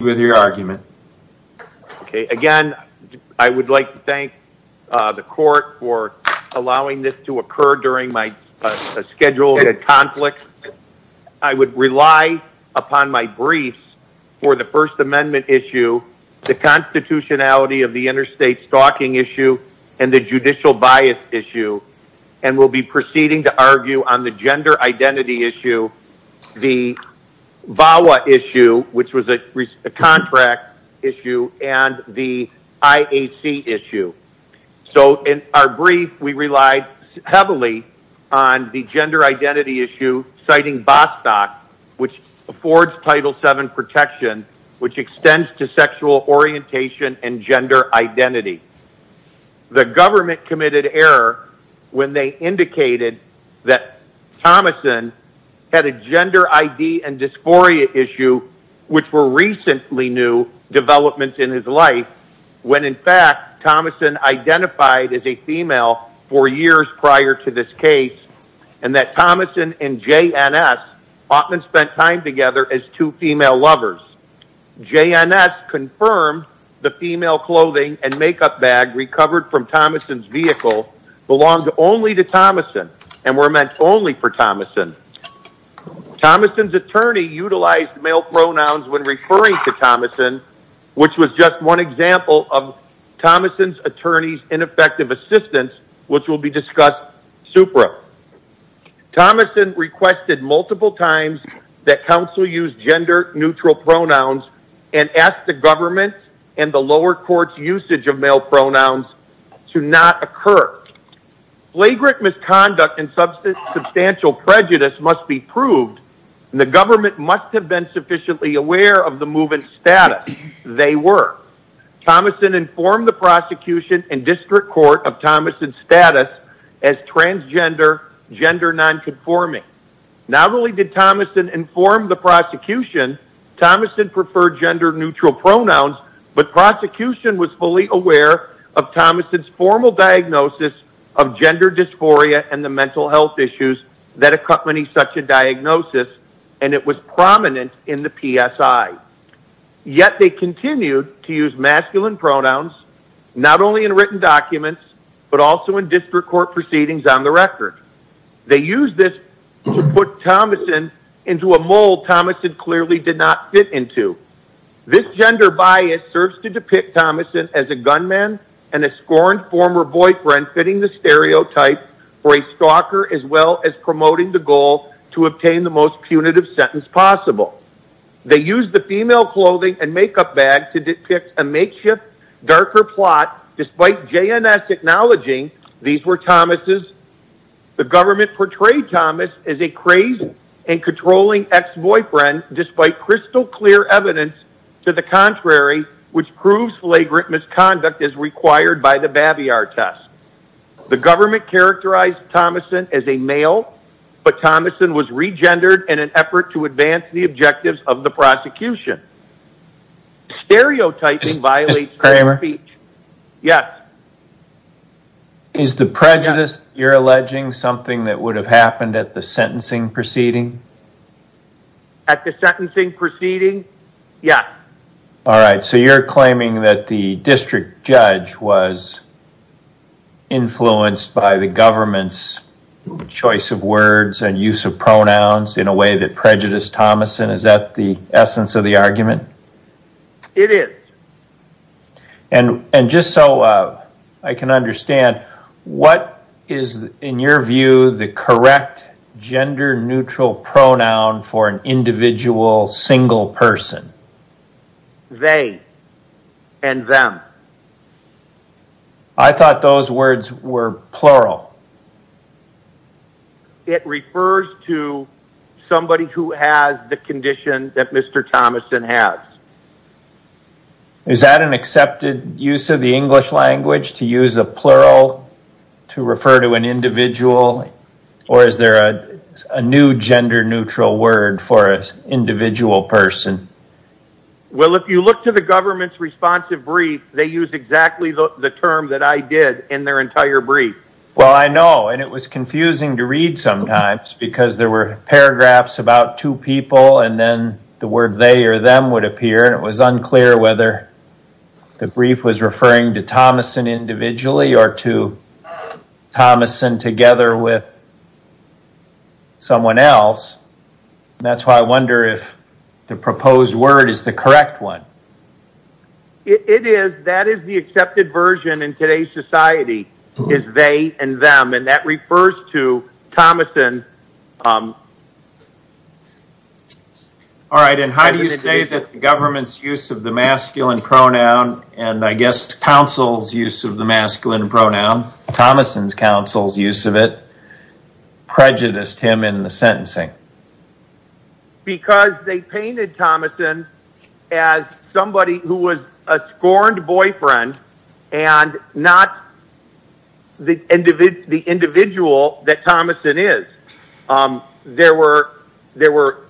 with your argument. Again, I would like to thank the court for allowing this to occur during my scheduled conflict. I would rely upon my briefs for the first amendment issue, the constitutionality of the interstate stalking issue, and the judicial bias issue, and will be proceeding to argue on the gender identity issue, the VAWA issue, which was a contract issue, and the IAC issue. So in our brief, we relied heavily on the gender identity issue, citing Bostock, which affords Title VII protection, which extends to sexual orientation and gender identity. The government committed error when they indicated that Thomason had a gender ID and dysphoria issue, which were recently new developments in his life, when in fact Thomason identified as a female four years prior to this case, and that Thomason and a makeup bag recovered from Thomason's vehicle belonged only to Thomason, and were meant only for Thomason. Thomason's attorney utilized male pronouns when referring to Thomason, which was just one example of Thomason's attorney's ineffective assistance, which will be discussed supra. Thomason requested multiple times that counsel use gender neutral pronouns, and asked the government and the lower court's usage of male pronouns to not occur. Flagrant misconduct and substantial prejudice must be proved, and the government must have been sufficiently aware of the move in status. They were. Thomason informed the prosecution and district court of Thomason's status as transgender, gender nonconforming. Not only did Thomason inform the prosecution, Thomason preferred gender neutral pronouns, but the prosecution was fully aware of Thomason's formal diagnosis of gender dysphoria and the mental health issues that accompany such a diagnosis, and it was prominent in the PSI. Yet they continued to use masculine pronouns, not only in written documents, but also in district court proceedings on the record. They used this to put Thomason into a mold Thomason clearly did not fit into. This gender bias serves to depict Thomason as a gunman and a scorned former boyfriend fitting the stereotype for a stalker, as well as promoting the goal to obtain the most punitive sentence possible. They used the female clothing and makeup bag to depict a makeshift, darker JNS acknowledging these were Thomas's. The government portrayed Thomas as a crazy and controlling ex-boyfriend, despite crystal clear evidence to the contrary, which proves flagrant misconduct as required by the Babbiar test. The government characterized Thomason as a male, but Thomason was regendered in an effort to advance the objectives of the Yes. Is the prejudice you're alleging something that would have happened at the sentencing proceeding? At the sentencing proceeding? Yes. All right. So you're claiming that the district judge was influenced by the government's choice of words and use of pronouns in a way that just so I can understand, what is in your view the correct gender neutral pronoun for an individual single person? They and them. I thought those words were plural. It refers to somebody who has the condition that Mr. Thomason has. Is that an accepted use of the English language to use a plural to refer to an individual, or is there a new gender neutral word for an individual person? Well, if you look to the government's responsive brief, they use exactly the term that I did in their entire brief. Well, I know, and it was confusing to read sometimes, because there were paragraphs about two people, and then the word they or them would appear, and it was unclear whether the brief was referring to Thomason individually or to Thomason together with someone else, and that's why I wonder if the proposed word is the correct one. It is. That is the accepted version in today's society, is they and them, and that is the correct one. How do you say that the government's use of the masculine pronoun, and I guess counsel's use of the masculine pronoun, Thomason's counsel's use of it, prejudiced him in the sentencing? Because they painted Thomason as somebody who was a scorned boyfriend, and not the individual that Thomason is. There were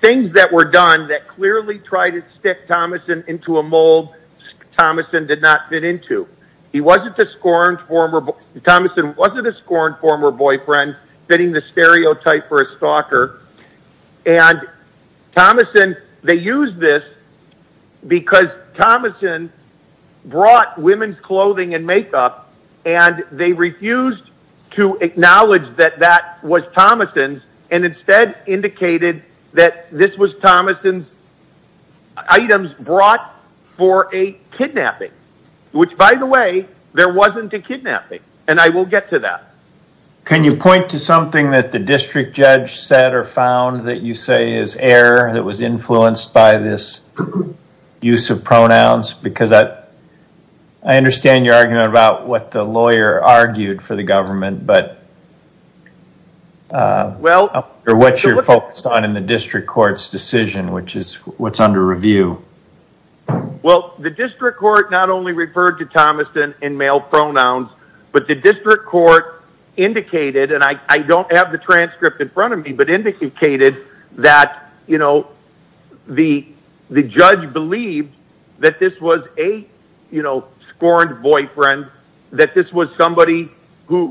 things that were done that clearly tried to stick Thomason into a mold Thomason did not fit into. He wasn't a scorned former, Thomason wasn't a scorned former boyfriend, fitting the stereotype for a stalker, and Thomason, they used this because Thomason brought women's clothing and makeup, and they refused to acknowledge that that was Thomason's, and instead indicated that this was Thomason's items brought for a kidnapping, which by the way, there wasn't a kidnapping, and I will get to that. Can you point to something that the district judge said or found that you say is error that was influenced by this use of pronouns, because I understand your argument about what the lawyer argued for the government, but what you're focused on in the district court's decision, which is what's under review? Well, the district court not only referred to Thomason in male pronouns, but the district court indicated, and I don't have the transcript in front of me, but indicated that the judge believed that this was a scorned boyfriend, that this was somebody who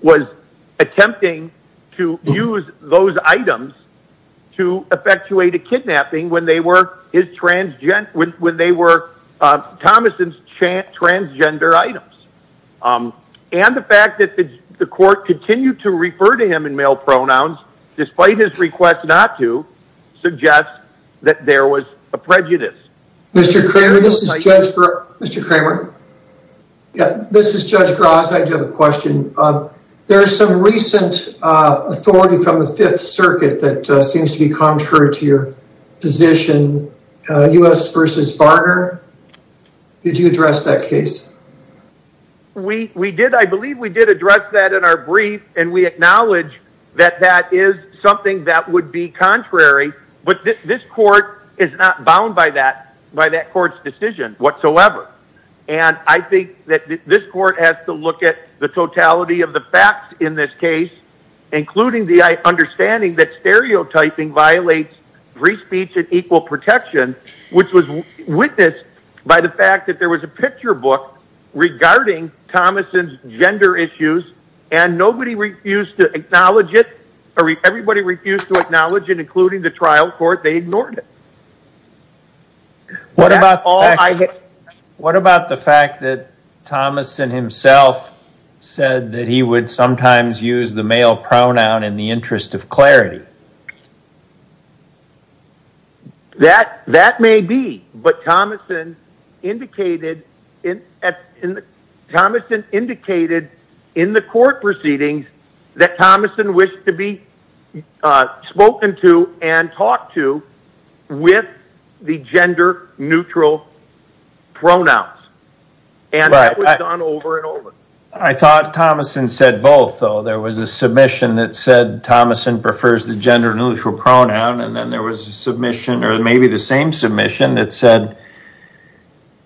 was attempting to use those items to effectuate a kidnapping when they were Thomason's transgender items, and the fact that the court continued to refer to him in male pronouns, despite his request not to, suggests that there was a prejudice. Mr. Kramer, this is Judge Gross. I do have a question. There's some recent authority from the Fifth Circuit that is not bound by that court's decision whatsoever, and I think that this court has to look at the totality of the facts in this case, including the understanding that stereotyping violates free speech and equal protection, which was witnessed by the fact that there was a picture book regarding Thomason's gender issues, and nobody refused to acknowledge it, everybody refused to acknowledge it, including the trial court. They ignored it. What about the fact that Thomason himself said that he would sometimes use the male pronoun in the interest of clarity? That may be, but Thomason indicated in the court proceedings that Thomason wished to be spoken to and talked to with the gender neutral pronouns, and that was done over and over. I thought Thomason said both, though. There was a submission that said Thomason prefers the gender neutral pronoun, and then there was a submission, or maybe the same submission, that said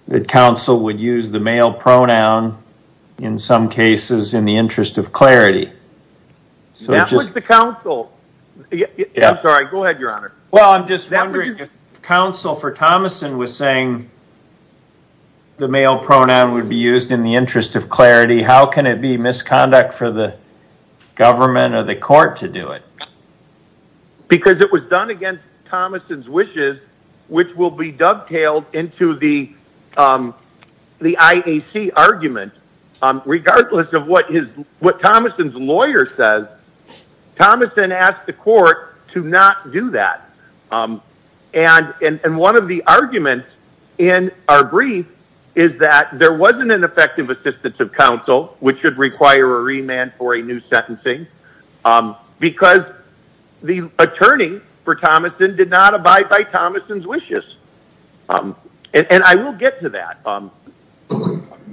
that counsel would use the male pronoun in some cases in the interest of clarity. That was the counsel. I'm sorry, go ahead, please. How can it be misconduct for the government or the court to do it? Because it was done against Thomason's wishes, which will be dovetailed into the IAC argument. Regardless of what Thomason's lawyer says, Thomason asked the court to not do that. And one of the arguments in our brief is that there wasn't an effective assistance of counsel, which would require a remand for a new sentencing, because the attorney for Thomason did not abide by Thomason's wishes. And I will get to that.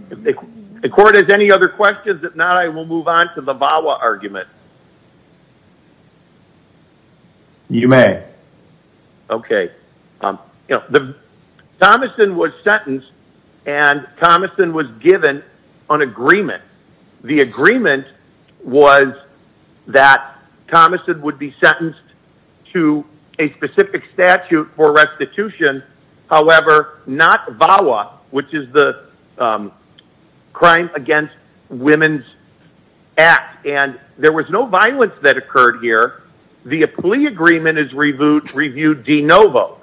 If the court has any other questions, I will move on to the VAWA argument. You may. Okay. Thomason was sentenced, and Thomason was given an agreement. The agreement was that Thomason would be sentenced to a specific statute for restitution, however, not VAWA, which is the Crime Against Women's Act. And there was no violence that occurred here. The plea agreement is reviewed de novo.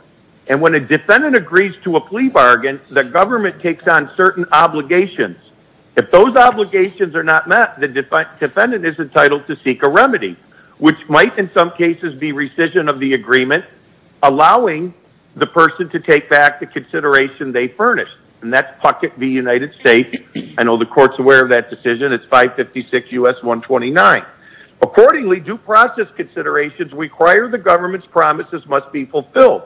And when a defendant agrees to a plea bargain, the government takes on certain obligations. If those obligations are not met, the defendant is entitled to seek a remedy, which might in some cases be rescission of the agreement, allowing the person to take back the consideration they furnished. And that's Puckett v. United States. I know the court's aware of that decision. It's 556 U.S. 129. Accordingly, due process considerations require the government's promises must be fulfilled.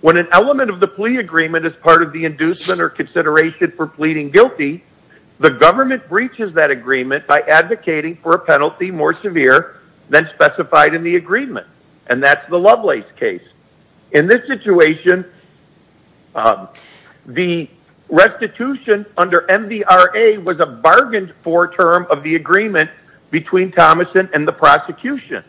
When an element of the plea agreement is part of the inducement or consideration for pleading guilty, the government breaches that agreement by advocating for a penalty more severe than specified in the agreement. And that's the Lovelace case. In this situation, the restitution under MDRA was a bargained for term of the agreement between Thomason and the prosecution.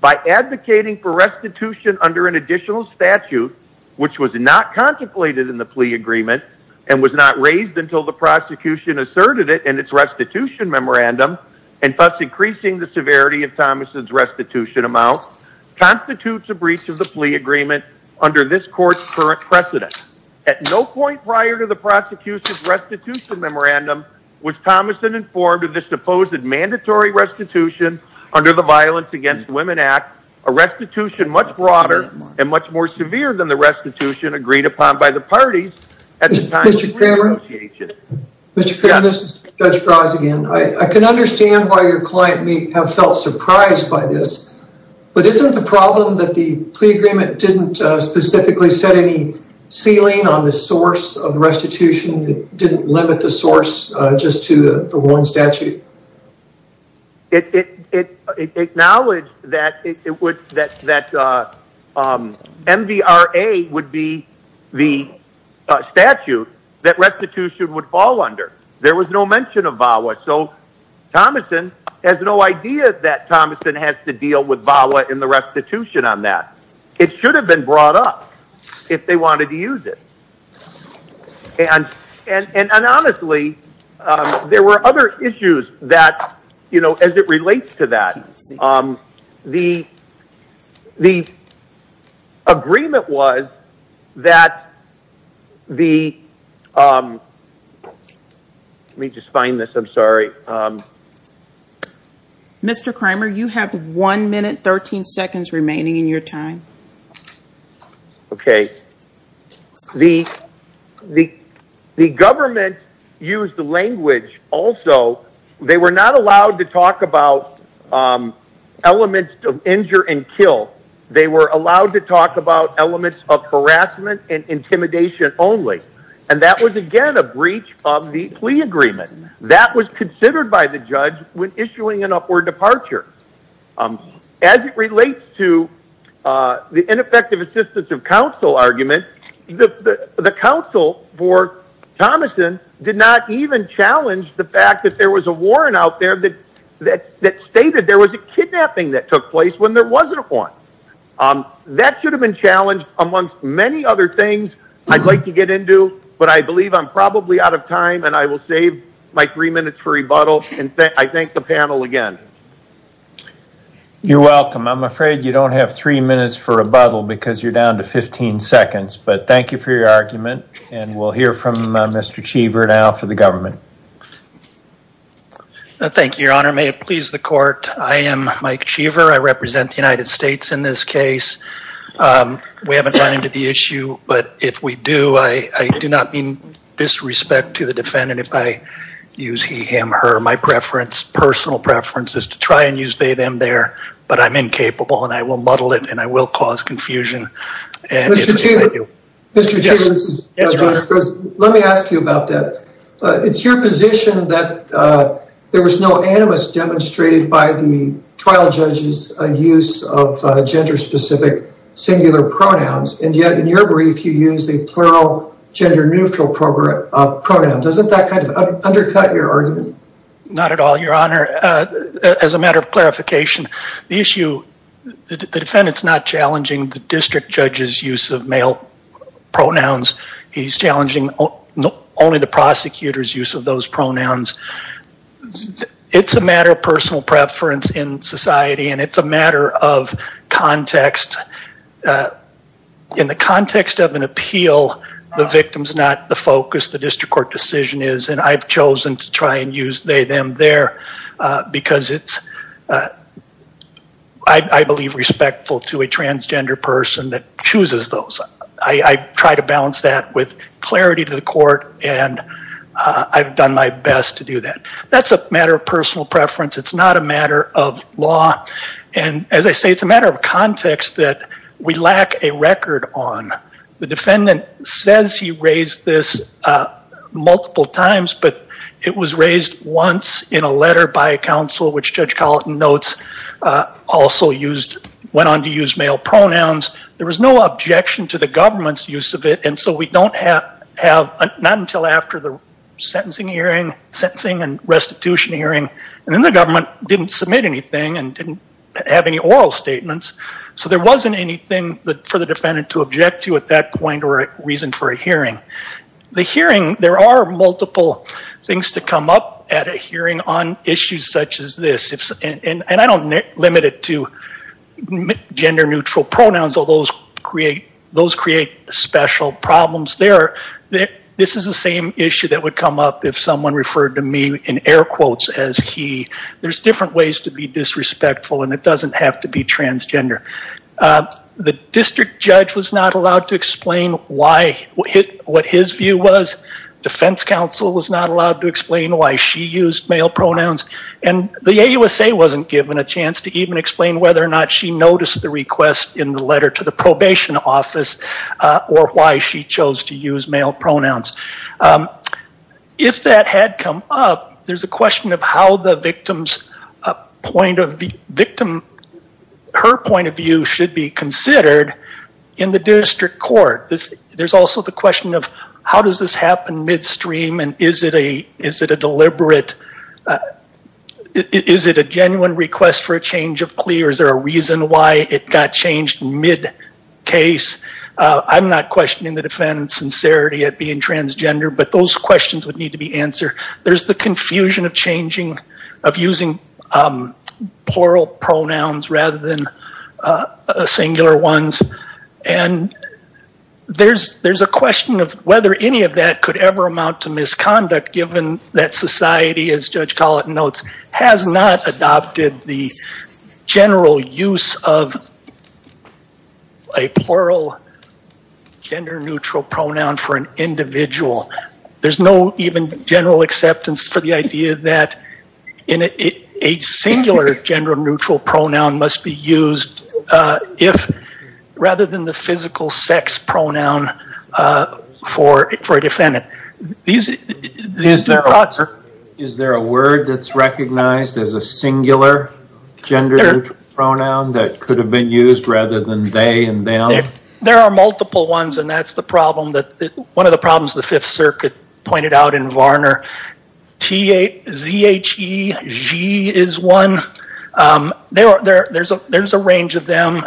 By advocating for restitution under an additional statute, which was not contemplated in the plea agreement and was not raised until the prosecution asserted it in its restitution memorandum, and thus increasing the severity of Thomason's restitution amount, constitutes a breach of the plea agreement under this court's current precedent. At no point prior to the prosecution's restitution memorandum was Thomason informed of this supposed mandatory restitution under the Violence Against Women Act, a restitution much broader and much more severe than the I can understand why your client may have felt surprised by this, but isn't the problem that the plea agreement didn't specifically set any ceiling on the source of restitution? It didn't limit the source just to the one statute? It acknowledged that MDRA would be the statute that restitution would fall under. There was no mention of VAWA. So Thomason has no idea that Thomason has to deal with VAWA and the restitution on that. It should have been brought up if they wanted to use it. And honestly, there were other issues that, you know, as it relates to that, the agreement was that the, let me just find this, I'm sorry. Mr. Kramer, you have one minute, 13 seconds remaining in your time. Okay. The government used the language also, they were not allowed to talk about elements of injure and kill. They were allowed to talk about elements of harassment and intimidation only. And that was again, a breach of the plea agreement that was considered by the judge when issuing an upward departure. As it relates to the ineffective assistance of counsel argument, the counsel for Thomason did not even challenge the fact that there was a warrant out that stated there was a kidnapping that took place when there wasn't one. That should have been challenged amongst many other things I'd like to get into, but I believe I'm probably out of time and I will save my three minutes for rebuttal and I thank the panel again. You're welcome. I'm afraid you don't have three minutes for rebuttal because you're down to 15 seconds, but thank you for your argument and we'll hear from Mr. Cheever now for the government. Thank you, your honor. May it please the court. I am Mike Cheever. I represent the United States in this case. We haven't run into the issue, but if we do, I do not mean disrespect to the defendant if I use he, him, her. My preference, personal preference is to try and use they, them, their, but I'm incapable and I will muddle it and I will cause confusion. Mr. Cheever, let me ask you about that. It's your position that there was no animus demonstrated by the trial judge's use of gender-specific singular pronouns and yet in your brief you use a plural gender-neutral pronoun. Doesn't that kind of undercut your argument? Not at all, your honor. As a matter of clarification, the issue, the defendant's not challenging the district judge's use of male pronouns. He's challenging only the prosecutor's use of those pronouns. It's a matter of personal preference in society and it's a matter of context. In the context of an appeal, the victim's not the focus. The district court decision is and I've chosen to try and use they, them, their because it's, I believe, respectful to a transgender person that chooses those. I try to balance that with clarity to the court and I've done my best to do that. That's a matter of personal preference. It's not a matter of law and as I say, it's a matter of context that we lack a record on. The defendant says he raised this multiple times, but it was raised once in a letter by a counsel which Judge Colleton notes also used, went on to use male pronouns. There was no objection to the government's use of it and so we don't have, not until after the sentencing hearing, sentencing and restitution hearing and then the government didn't submit anything and didn't have any oral statements. So there wasn't anything for the defendant to object to at that point or reason for a hearing. The hearing, there are multiple things to come up at a hearing on issues such as this and I don't limit it to gender neutral pronouns, although those create special problems there. This is the same issue that would come up if someone referred to me in air quotes as he. There's different ways to be disrespectful and it doesn't have to be transgender. The district judge was not allowed to explain why, what his view was. Defense counsel was not allowed to explain why she used male pronouns and the AUSA wasn't given a chance to even explain whether or not she noticed the request in the letter to the probation office or why she chose to use male pronouns. If that had come up, there's a question of how the victim's point of view, victim, her point of view should be considered in the district court. There's also the question of how does this happen midstream and is it a deliberate, is it a genuine request for a change of plea or is there a reason why it got changed mid-case. I'm not questioning the defendant's sincerity at being transgender, but those questions would need to be answered. There's the confusion of changing, of using plural pronouns rather than singular ones. And there's a question of whether any of that could ever amount to misconduct given that society, as Judge Collett notes, has not adopted the general use of a plural gender neutral pronoun for an individual. There's no even general acceptance for the idea that a singular gender pronoun must be used rather than the physical sex pronoun for a defendant. Is there a word that's recognized as a singular gender neutral pronoun that could have been used rather than they and them? There are multiple ones and that's the problem, one of the problems the there's a range of them.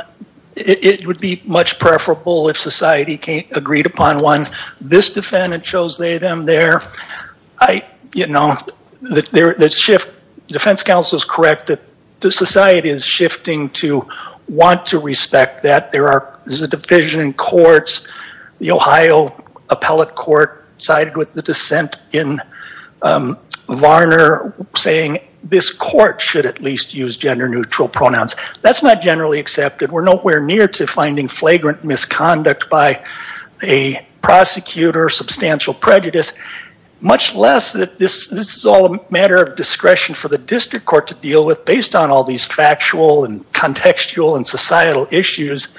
It would be much preferable if society agreed upon one. This defendant chose they, them, their. Defense counsel is correct that the society is shifting to want to respect that. There is a division in courts. The Ohio appellate court sided with the pronouns. That's not generally accepted. We're nowhere near to finding flagrant misconduct by a prosecutor, substantial prejudice, much less that this is all a matter of discretion for the district court to deal with based on all these factual and contextual and societal issues.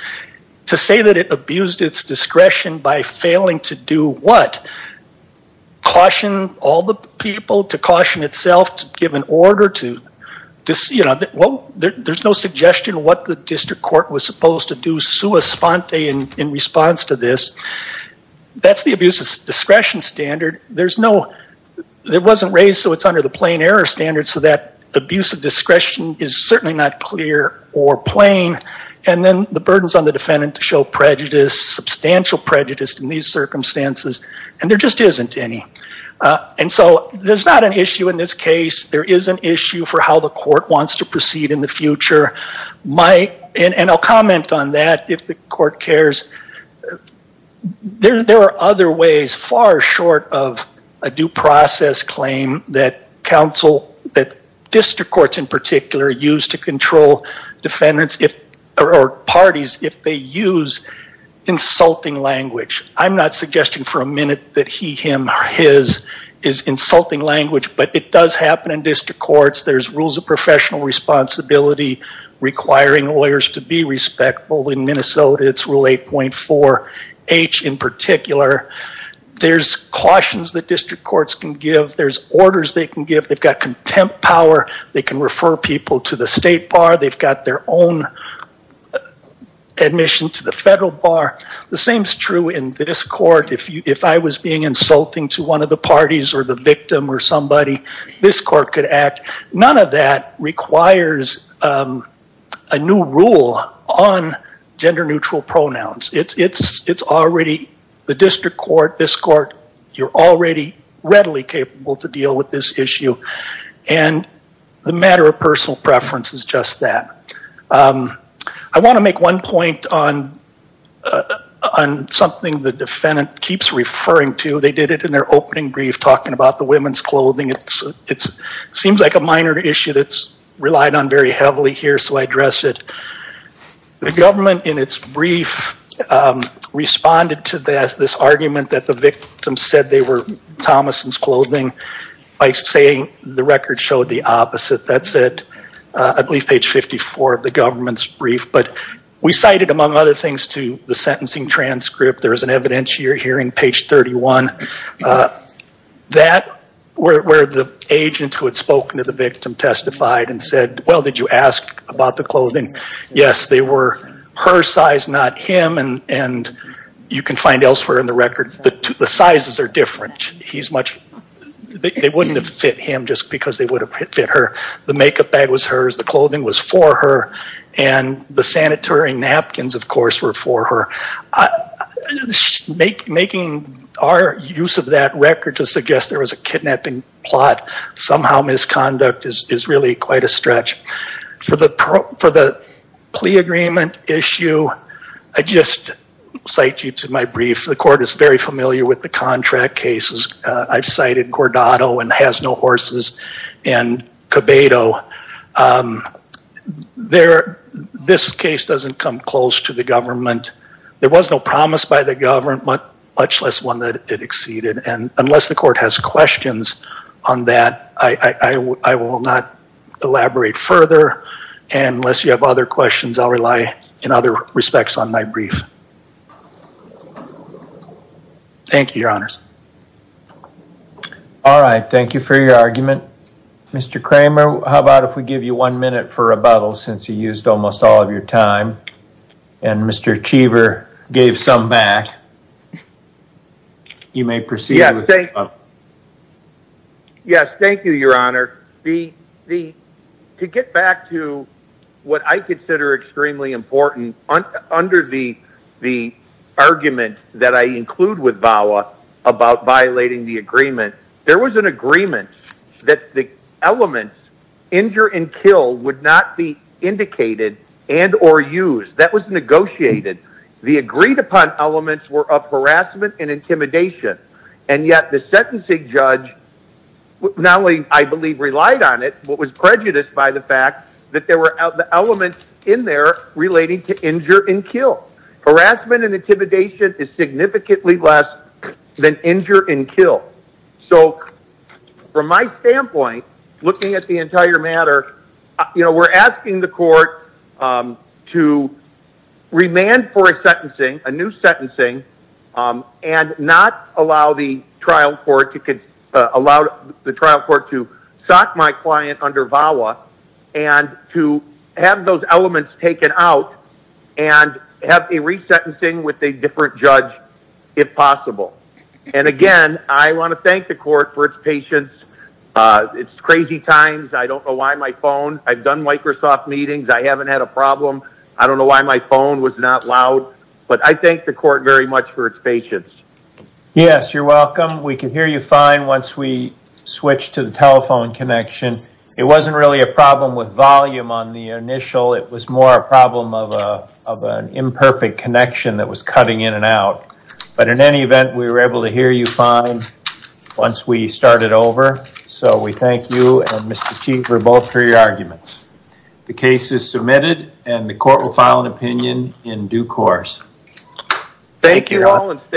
To say that it abused its discretion by failing to do what? Caution all the people, to caution itself, to give an order. There's no suggestion what the district court was supposed to do sua sponte in response to this. That's the abuse of discretion standard. It wasn't raised so it's under the plain error standard so that abuse of discretion is certainly not clear or plain. Then the burdens on the defendant to show prejudice, substantial prejudice in these cases. There is an issue for how the court wants to proceed in the future. And I'll comment on that if the court cares. There are other ways far short of a due process claim that district courts in particular use to control defendants or parties if they use insulting language. I'm not suggesting for a minute that he, him or his is insulting language but it does happen in district courts. There's rules of professional responsibility requiring lawyers to be respectful. In Minnesota it's rule 8.4H in particular. There's cautions that district courts can give. There's orders they can give. They've got contempt power. They can refer people to the state bar. They've got their own admission to the federal bar. The same is true in this court. If I was being insulting to one of the parties or the victim or somebody, this court could act. None of that requires a new rule on gender neutral pronouns. It's already the district court, this court, you're already readily capable to deal with this issue. And the matter of referring to, they did it in their opening brief talking about the women's clothing. It seems like a minor issue that's relied on very heavily here so I address it. The government in its brief responded to this argument that the victim said they were Thomason's clothing by saying the record showed the opposite. That's at I believe page 54 of the government's brief. But we cited among other things to the sentencing transcript, there's an evidentiary here in page 31. That where the agent who had spoken to the victim testified and said, well, did you ask about the clothing? Yes, they were her size, not him, and you can find elsewhere in the record that the sizes are different. They wouldn't have fit him just because they would have fit her. The makeup bag was hers, the clothing was for her, and the sanitary napkins, of course, were for her. Making our use of that record to suggest there was a kidnapping plot somehow misconduct is really quite a stretch. For the plea agreement issue, I just cite you to my brief. The court is very sensitive to debate. This case doesn't come close to the government. There was no promise by the government, much less one that it exceeded. Unless the court has questions on that, I will not elaborate further, and unless you have other questions, I'll rely in other respects on my brief. Thank you, your honors. All right. Thank you for your argument. Mr. Kramer, how about if we give you one minute for rebuttal since you used almost all of your time, and Mr. Cheever gave some back. Yes, thank you, your honor. To get back to what I consider extremely important, under the argument that I include with VAWA about violating the agreement, there was an agreement that the elements, injure and kill, would not be indicated and or used. That was negotiated. The agreed upon elements were of harassment and intimidation, and yet the sentencing judge not only, I believe, relied on it, but was prejudiced by the fact that there were elements in there relating to injure and kill. Harassment and intimidation is significantly less than injure and kill. So from my standpoint, looking at the entire matter, we're asking the court to remand for a sentencing, a new sentencing, and not allow the trial court to allow the trial court to sock my client under VAWA and to have those elements taken out and have a resentencing with a different judge, if possible. And again, I want to thank the court for its patience. It's crazy times. I don't know why my phone, I've done Microsoft meetings, I haven't had a problem. I don't know why my phone was not loud, but I thank the court very much for its patience. Yes, you're welcome. We can hear you fine once we switch to the telephone connection. It wasn't really a problem with volume on the initial. It was more a problem of an imperfect connection that was cutting in and out. But in any event, we were able to hear you fine once we started over. So we thank you and Mr. Chief for both your arguments. The case is submitted and the court will file an opinion in due course. Thank you all.